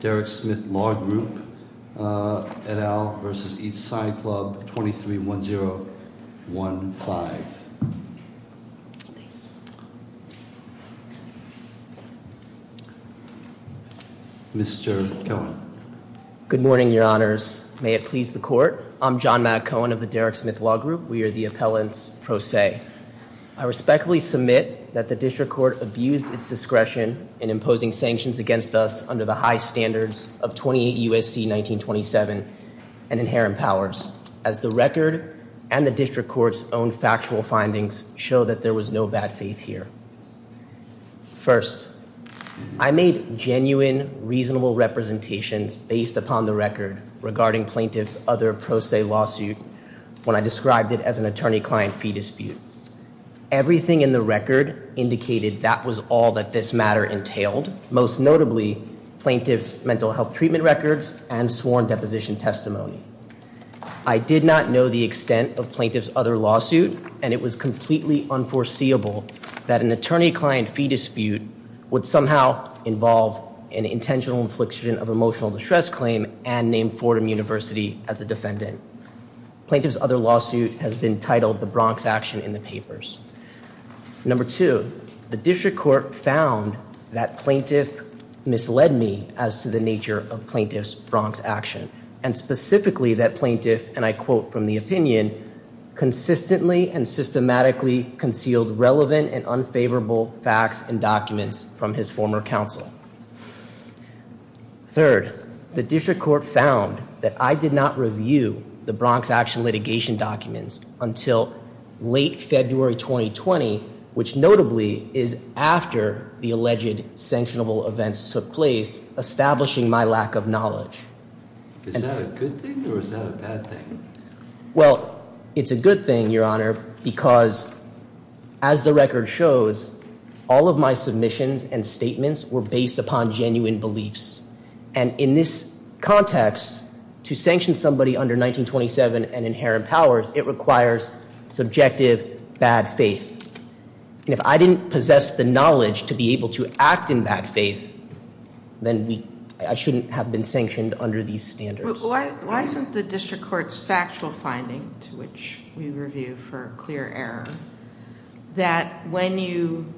Derrick Smith Law Group, et al. v. East Side Club, 231015 Mr. Cohen Good morning, your honors. May it please the court. I'm John Matt Cohen of the Derrick Smith Law Group. We are the appellants pro se. I respectfully submit that the district court abused its discretion in imposing sanctions against us under the high standards of 28 U.S.C. 1927 and inherent powers, as the record and the district court's own factual findings show that there was no bad faith here. First, I made genuine, reasonable representations based upon the record regarding plaintiff's other pro se lawsuit when I described it as an attorney-client fee dispute. Everything in the record indicated that was all that this matter entailed, most notably plaintiff's mental health treatment records and sworn deposition testimony. I did not know the extent of plaintiff's other lawsuit, and it was completely unforeseeable that an attorney-client fee dispute would somehow involve an intentional infliction of emotional distress claim and name Fordham University as a defendant. Plaintiff's other lawsuit has been titled the Bronx Action in the papers. Number two, the district court found that plaintiff misled me as to the nature of plaintiff's Bronx action, and specifically that plaintiff, and I quote from the opinion, consistently and systematically concealed relevant and unfavorable facts and documents from his former counsel. Third, the district court found that I did not review the Bronx Action litigation documents until late February 2020, which notably is after the alleged sanctionable events took place, establishing my lack of knowledge. Is that a good thing or is that a bad thing? Well, it's a good thing, Your Honor, because as the record shows, all of my submissions and statements were based upon genuine beliefs. And in this context, to sanction somebody under 1927 and inherent powers, it requires subjective bad faith. And if I didn't possess the knowledge to be able to act in that faith, then I shouldn't have been sanctioned under these standards. Why isn't the district court's factual finding, to which we review for clear error, that when you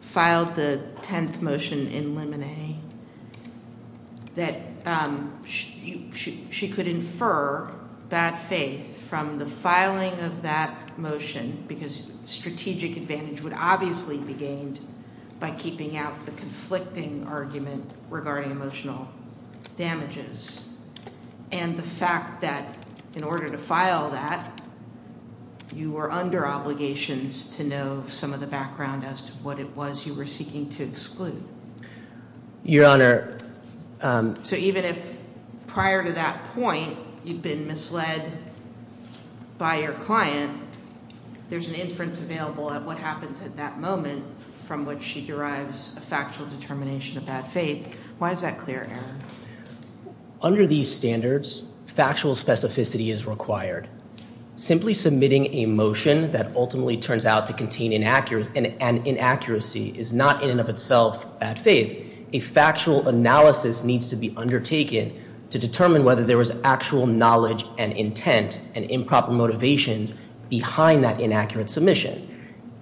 filed the tenth motion in limine, that she could infer bad faith from the filing of that motion because strategic advantage would obviously be gained by keeping out the conflicting argument regarding emotional damages. And the fact that in order to file that, you were under obligations to know some of the background as to what it was you were seeking to exclude. Your Honor. So even if prior to that point you'd been misled by your client, there's an inference available at what happens at that moment from which she derives a factual determination of bad faith. Why is that clear error? Under these standards, factual specificity is required. Simply submitting a motion that ultimately turns out to contain an inaccuracy is not in and of itself bad faith. A factual analysis needs to be undertaken to determine whether there was actual knowledge and intent and improper motivations behind that inaccurate submission.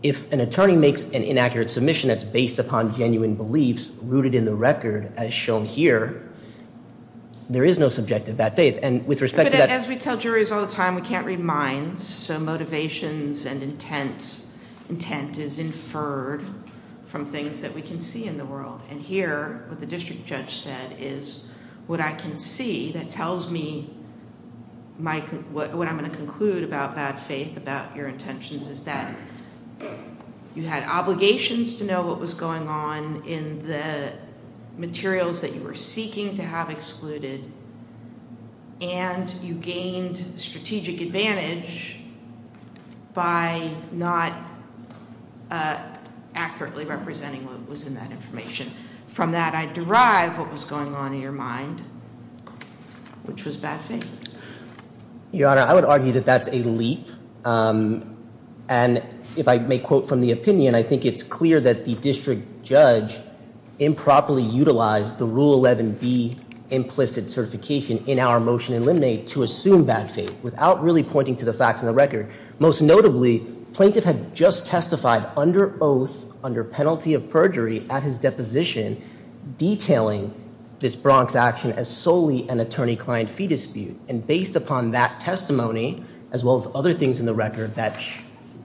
If an attorney makes an inaccurate submission that's based upon genuine beliefs rooted in the record as shown here, there is no subjective bad faith. And with respect to that- But as we tell juries all the time, we can't read minds. So motivations and intent is inferred from things that we can see in the world. And here what the district judge said is what I can see that tells me what I'm going to conclude about bad faith, about your intentions, is that you had obligations to know what was going on in the materials that you were seeking to have excluded. And you gained strategic advantage by not accurately representing what was in that information. From that I derive what was going on in your mind, which was bad faith. Your Honor, I would argue that that's a leap. And if I may quote from the opinion, I think it's clear that the district judge improperly utilized the Rule 11B implicit certification in our motion in limine to assume bad faith without really pointing to the facts and the record. Most notably, plaintiff had just testified under oath under penalty of perjury at his deposition detailing this Bronx action as solely an attorney-client fee dispute. And based upon that testimony, as well as other things in the record that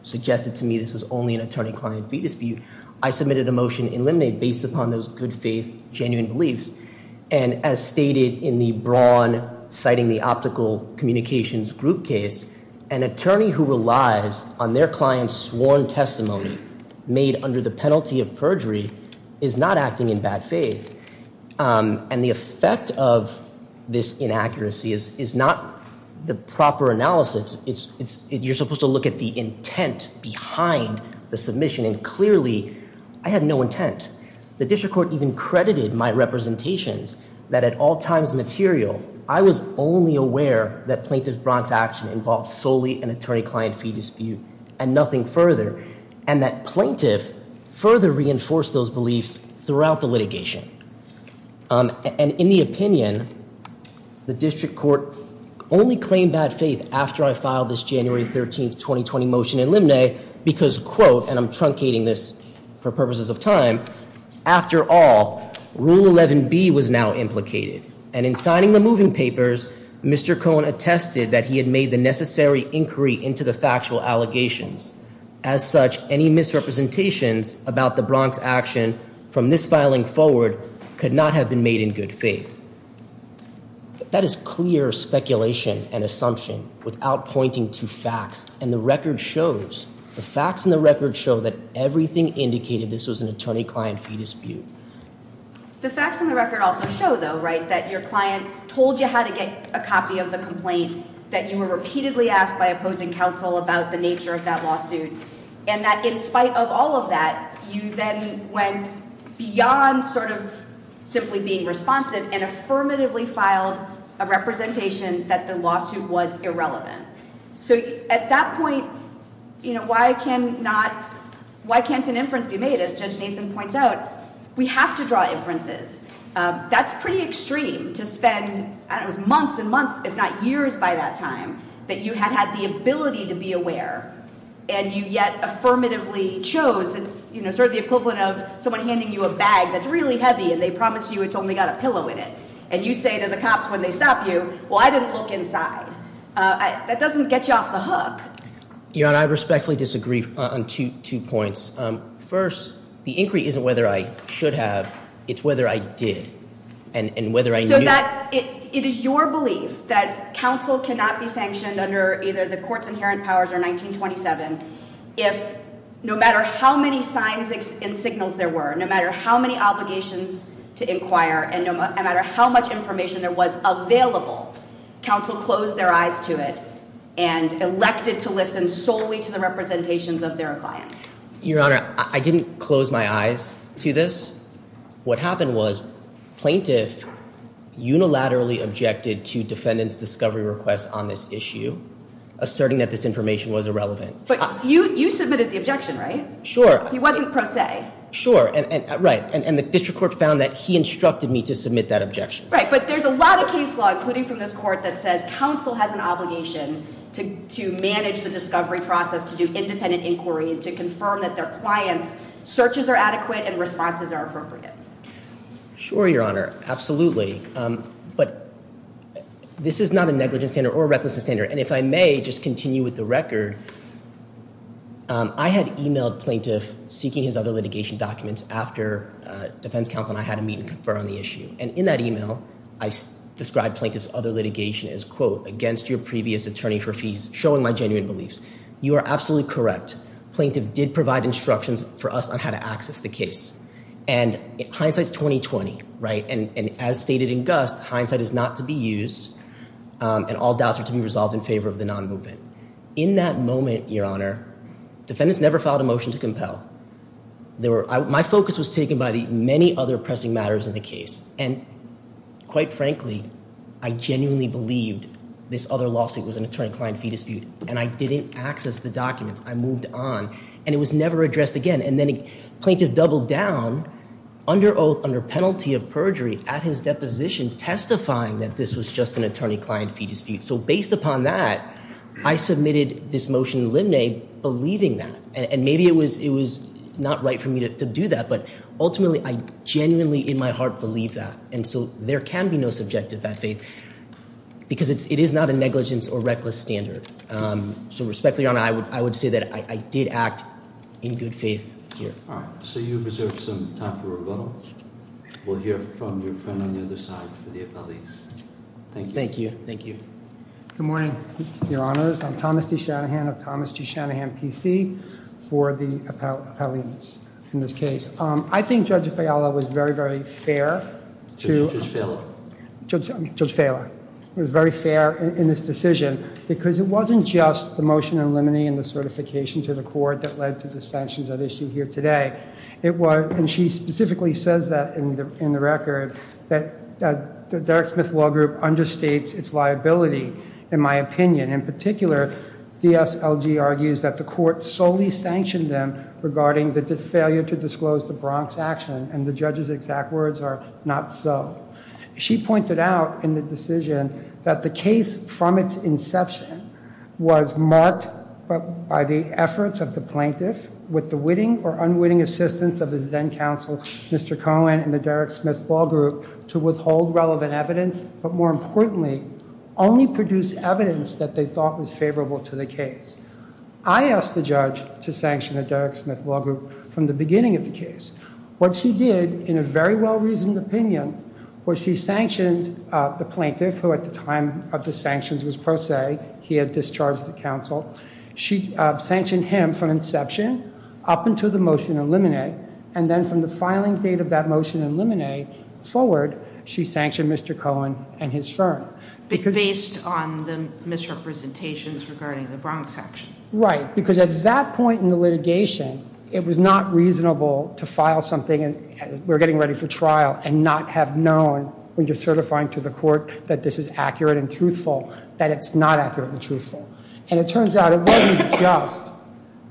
suggested to me this was only an attorney-client fee dispute, I submitted a motion in limine based upon those good faith genuine beliefs. And as stated in the Braun citing the optical communications group case, an attorney who relies on their client's sworn testimony made under the penalty of perjury is not acting in bad faith. And the effect of this inaccuracy is not the proper analysis. You're supposed to look at the intent behind the submission. And clearly, I had no intent. The district court even credited my representations that at all times material, I was only aware that plaintiff's Bronx action involved solely an attorney-client fee dispute and nothing further. And that plaintiff further reinforced those beliefs throughout the litigation. And in the opinion, the district court only claimed bad faith after I filed this January 13th, 2020 motion in limine. Because quote, and I'm truncating this for purposes of time. After all, rule 11B was now implicated. And in signing the moving papers, Mr. Cohen attested that he had made the necessary inquiry into the factual allegations. As such, any misrepresentations about the Bronx action from this filing forward could not have been made in good faith. That is clear speculation and assumption without pointing to facts. And the record shows, the facts in the record show that everything indicated this was an attorney-client fee dispute. The facts in the record also show though, right, that your client told you how to get a copy of the complaint. That you were repeatedly asked by opposing counsel about the nature of that lawsuit. And that in spite of all of that, you then went beyond sort of simply being responsive and affirmatively filed a representation that the lawsuit was irrelevant. So at that point, you know, why can't an inference be made? As Judge Nathan points out, we have to draw inferences. That's pretty extreme to spend, I don't know, months and months, if not years by that time, that you had had the ability to be aware. And you yet affirmatively chose. It's sort of the equivalent of someone handing you a bag that's really heavy and they promise you it's only got a pillow in it. And you say to the cops when they stop you, well, I didn't look inside. That doesn't get you off the hook. Your Honor, I respectfully disagree on two points. First, the inquiry isn't whether I should have, it's whether I did. And whether I knew. So that it is your belief that counsel cannot be sanctioned under either the court's inherent powers or 1927. If no matter how many signs and signals there were, no matter how many obligations to inquire. And no matter how much information there was available, counsel closed their eyes to it. And elected to listen solely to the representations of their client. Your Honor, I didn't close my eyes to this. What happened was plaintiff unilaterally objected to defendant's discovery request on this issue. Asserting that this information was irrelevant. But you submitted the objection, right? Sure. He wasn't pro se. Sure, right. And the district court found that he instructed me to submit that objection. Right, but there's a lot of case law, including from this court, that says counsel has an obligation to manage the discovery process. To do independent inquiry and to confirm that their client's searches are adequate and responses are appropriate. Sure, Your Honor. Absolutely. But this is not a negligence standard or a recklessness standard. And if I may just continue with the record. I had emailed plaintiff seeking his other litigation documents after defense counsel and I had a meeting to confer on the issue. And in that email, I described plaintiff's other litigation as, quote, against your previous attorney for fees, showing my genuine beliefs. You are absolutely correct. Plaintiff did provide instructions for us on how to access the case. And hindsight's 20-20, right? And as stated in Gust, hindsight is not to be used and all doubts are to be resolved in favor of the non-movement. In that moment, Your Honor, defendants never filed a motion to compel. My focus was taken by the many other pressing matters in the case. And quite frankly, I genuinely believed this other lawsuit was an attorney-client fee dispute. And I didn't access the documents. I moved on. And it was never addressed again. And then plaintiff doubled down under penalty of perjury at his deposition, testifying that this was just an attorney-client fee dispute. So based upon that, I submitted this motion in limine believing that. And maybe it was not right for me to do that. But ultimately, I genuinely in my heart believe that. And so there can be no subjective bad faith because it is not a negligence or reckless standard. So respectfully, Your Honor, I would say that I did act in good faith here. All right. So you've reserved some time for rebuttal. We'll hear from your friend on the other side for the appellees. Thank you. Thank you. Thank you. Good morning, Your Honors. I'm Thomas D. Shanahan of Thomas D. Shanahan PC for the appellees in this case. I think Judge Fiala was very, very fair to Judge Fiala. It was very fair in this decision because it wasn't just the motion in limine and the certification to the court that led to the sanctions at issue here today. It was, and she specifically says that in the record, that the Derek Smith Law Group understates its liability, in my opinion. In particular, DSLG argues that the court solely sanctioned them regarding the failure to disclose the Bronx action. And the judge's exact words are not so. She pointed out in the decision that the case from its inception was marked by the efforts of the plaintiff with the witting or unwitting assistance of his then counsel, Mr. Cohen and the Derek Smith Law Group to withhold relevant evidence, but more importantly, only produce evidence that they thought was favorable to the case. I asked the judge to sanction the Derek Smith Law Group from the beginning of the case. What she did, in a very well-reasoned opinion, was she sanctioned the plaintiff, who at the time of the sanctions was pro se. He had discharged the counsel. She sanctioned him from inception up until the motion in limine. And then from the filing date of that motion in limine forward, she sanctioned Mr. Cohen and his firm. Based on the misrepresentations regarding the Bronx action. Right. Because at that point in the litigation, it was not reasonable to file something, and we're getting ready for trial, and not have known when you're certifying to the court that this is accurate and truthful, that it's not accurate and truthful. And it turns out it wasn't just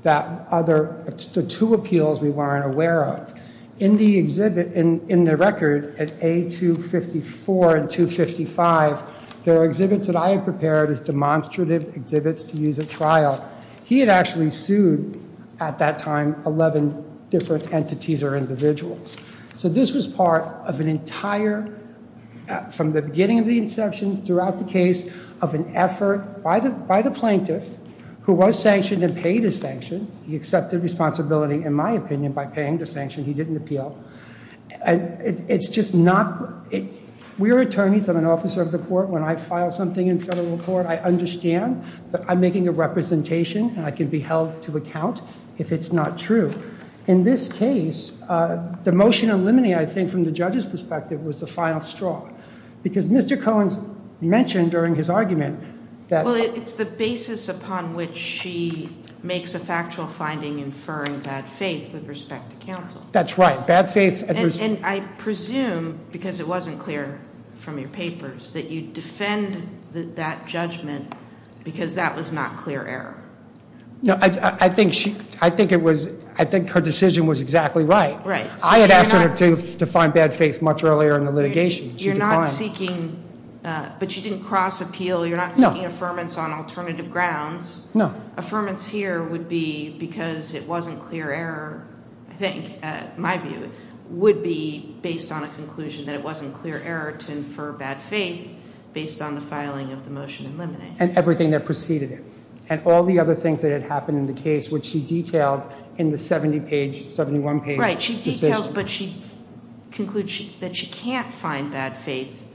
that other, the two appeals we weren't aware of. In the exhibit, in the record, at A254 and 255, there are exhibits that I had prepared as demonstrative exhibits to use at trial. He had actually sued, at that time, 11 different entities or individuals. So this was part of an entire, from the beginning of the inception throughout the case, of an effort by the plaintiff, who was sanctioned and paid his sanction. He accepted responsibility, in my opinion, by paying the sanction. He didn't appeal. And it's just not, we're attorneys. I'm an officer of the court. When I file something in federal court, I understand that I'm making a representation, and I can be held to account if it's not true. In this case, the motion on limine, I think, from the judge's perspective, was the final straw. Because Mr. Cohen mentioned during his argument that- Well, it's the basis upon which she makes a factual finding inferring bad faith with respect to counsel. That's right. Bad faith- And I presume, because it wasn't clear from your papers, that you defend that judgment because that was not clear error. No, I think her decision was exactly right. Right. I had asked her to find bad faith much earlier in the litigation. You're not seeking, but you didn't cross appeal. You're not seeking affirmance on alternative grounds. Affirmance here would be because it wasn't clear error, I think, in my view, would be based on a conclusion that it wasn't clear error to infer bad faith based on the filing of the motion in limine. And everything that preceded it. And all the other things that had happened in the case, which she detailed in the 70-page, 71-page decision. Right. She details, but she concludes that she can't find bad faith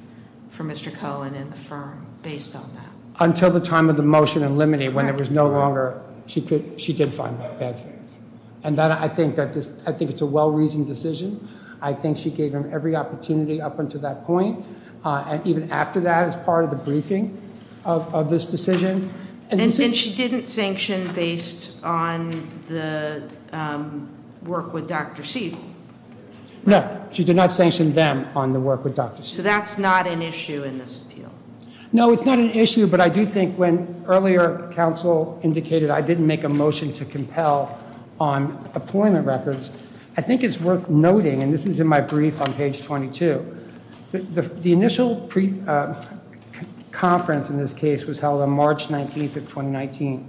for Mr. Cohen and affirm based on that. Until the time of the motion in limine, when there was no longer- Right. She did find bad faith. And I think it's a well-reasoned decision. I think she gave him every opportunity up until that point. And even after that as part of the briefing of this decision. And she didn't sanction based on the work with Dr. Siegel? No. She did not sanction them on the work with Dr. Siegel. So that's not an issue in this appeal? No, it's not an issue, but I do think when earlier counsel indicated I didn't make a motion to compel on appointment records, I think it's worth noting, and this is in my brief on page 22. The initial conference in this case was held on March 19th of 2019.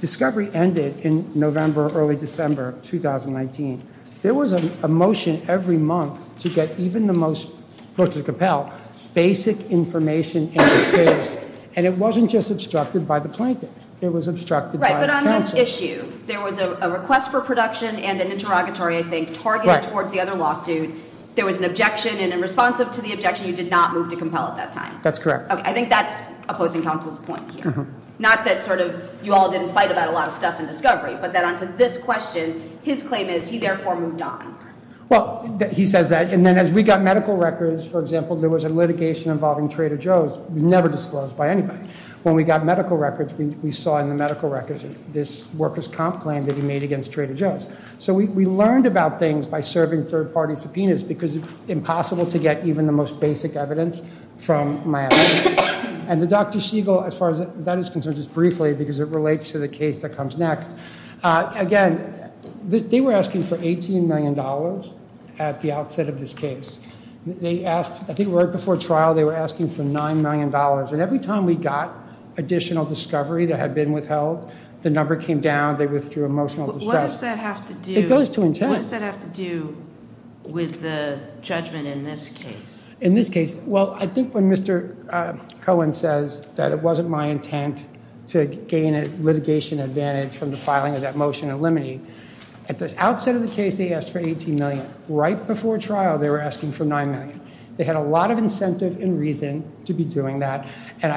Discovery ended in November, early December of 2019. There was a motion every month to get even the most, close to the compel, basic information in this case. And it wasn't just obstructed by the plaintiff. It was obstructed by counsel. There was an issue. There was a request for production and an interrogatory, I think, targeted towards the other lawsuit. There was an objection. And in response to the objection, you did not move to compel at that time? That's correct. I think that's opposing counsel's point here. Not that sort of you all didn't fight about a lot of stuff in Discovery. But then onto this question, his claim is he therefore moved on. Well, he says that. And then as we got medical records, for example, there was a litigation involving Trader Joe's. It was never disclosed by anybody. When we got medical records, we saw in the medical records this workers' comp claim that he made against Trader Joe's. So we learned about things by serving third-party subpoenas because it's impossible to get even the most basic evidence from Miami. And the Dr. Siegel, as far as that is concerned, just briefly, because it relates to the case that comes next. Again, they were asking for $18 million at the outset of this case. They asked, I think right before trial, they were asking for $9 million. And every time we got additional Discovery that had been withheld, the number came down. They withdrew emotional distress. What does that have to do with the judgment in this case? In this case, well, I think when Mr. Cohen says that it wasn't my intent to gain a litigation advantage from the filing of that motion and limiting, at the outset of the case, they asked for $18 million. They had a lot of incentive and reason to be doing that. And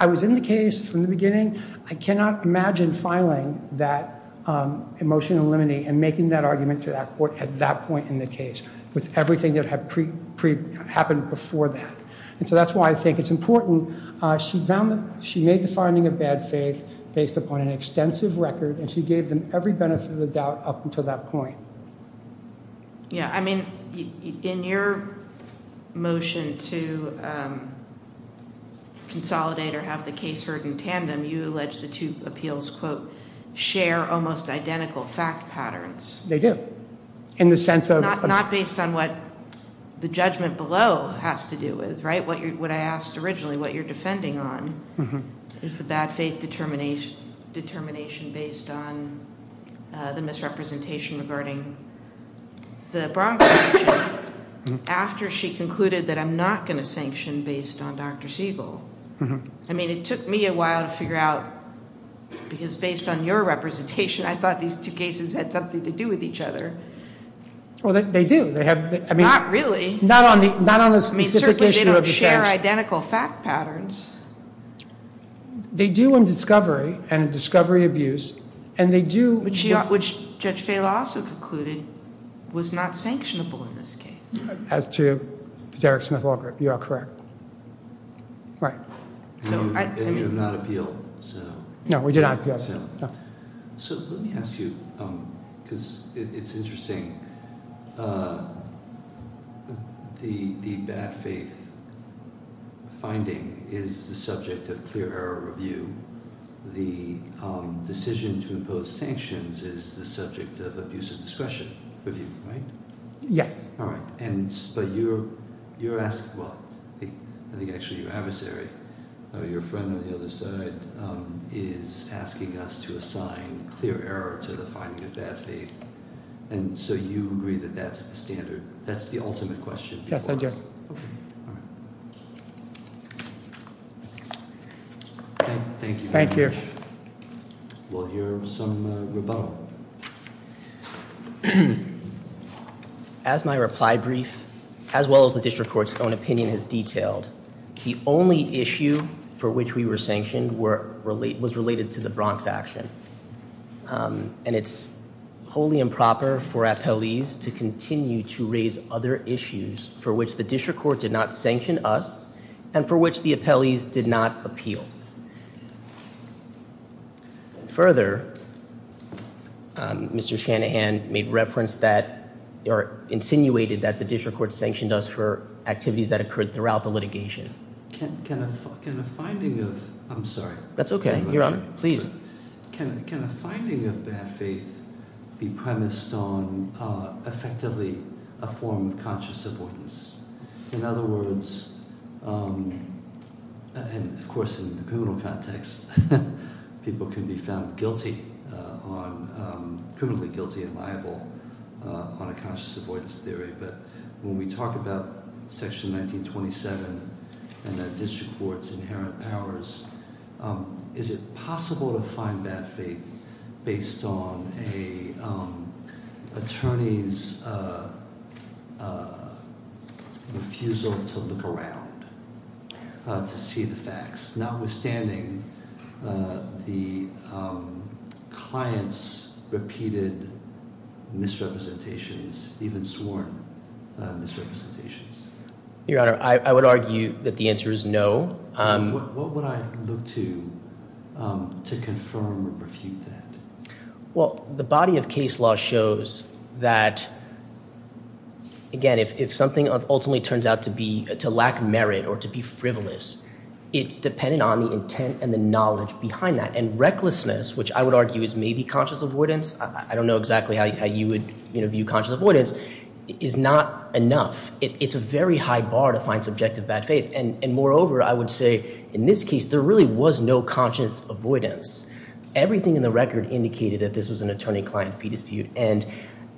I was in the case from the beginning. I cannot imagine filing that motion and limiting and making that argument to that court at that point in the case with everything that had happened before that. And so that's why I think it's important. She made the finding of bad faith based upon an extensive record, and she gave them every benefit of the doubt up until that point. Yeah, I mean, in your motion to consolidate or have the case heard in tandem, you allege the two appeals, quote, share almost identical fact patterns. They do. In the sense of? Not based on what the judgment below has to do with, right? What I asked originally, what you're defending on, is the bad faith determination based on the misrepresentation regarding the Bronco motion, after she concluded that I'm not going to sanction based on Dr. Siegel. I mean, it took me a while to figure out, because based on your representation, I thought these two cases had something to do with each other. Well, they do. Not really. Not on the specific issue of the sanction. I mean, certainly they don't share identical fact patterns. They do in discovery and discovery abuse, and they do. Which Judge Faila also concluded was not sanctionable in this case. As to Derek Smith-Walgrip, you are correct. Right. And you did not appeal, so. No, we did not appeal. So let me ask you, because it's interesting, the bad faith finding is the subject of clear error review. The decision to impose sanctions is the subject of abuse of discretion review, right? Yes. All right. But you're asking, well, I think actually your adversary, your friend on the other side, is asking us to assign clear error to the finding of bad faith. And so you agree that that's the standard, that's the ultimate question. Yes, I do. All right. Thank you. Thank you. We'll hear some rebuttal. As my reply brief, as well as the district court's own opinion has detailed, the only issue for which we were sanctioned was related to the Bronx action. And it's wholly improper for appellees to continue to raise other issues for which the district court did not sanction us and for which the appellees did not appeal. Further, Mr. Shanahan made reference that, or insinuated that the district court sanctioned us for activities that occurred throughout the litigation. Can a finding of, I'm sorry. That's okay, Your Honor, please. Can a finding of bad faith be premised on effectively a form of conscious avoidance? In other words, and of course in the criminal context, people can be found guilty on, criminally guilty and liable on a conscious avoidance theory. But when we talk about Section 1927 and the district court's inherent powers, is it possible to find bad faith based on an attorney's refusal to look around, to see the facts? Notwithstanding the client's repeated misrepresentations, even sworn misrepresentations. Your Honor, I would argue that the answer is no. What would I look to to confirm or refute that? Well, the body of case law shows that, again, if something ultimately turns out to be, to lack merit or to be frivolous, it's dependent on the intent and the knowledge behind that. And recklessness, which I would argue is maybe conscious avoidance, I don't know exactly how you would view conscious avoidance, is not enough. It's a very high bar to find subjective bad faith. And moreover, I would say, in this case, there really was no conscious avoidance. Everything in the record indicated that this was an attorney-client fee dispute. And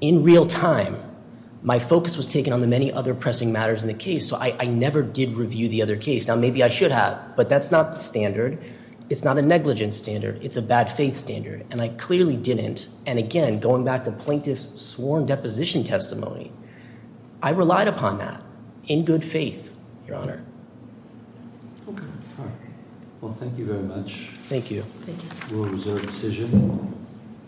in real time, my focus was taken on the many other pressing matters in the case, so I never did review the other case. Now, maybe I should have, but that's not the standard. It's not a negligence standard. It's a bad faith standard. And I clearly didn't. And, again, going back to plaintiff's sworn deposition testimony, I relied upon that in good faith, Your Honor. Okay. Well, thank you very much. Thank you. We'll reserve the decision.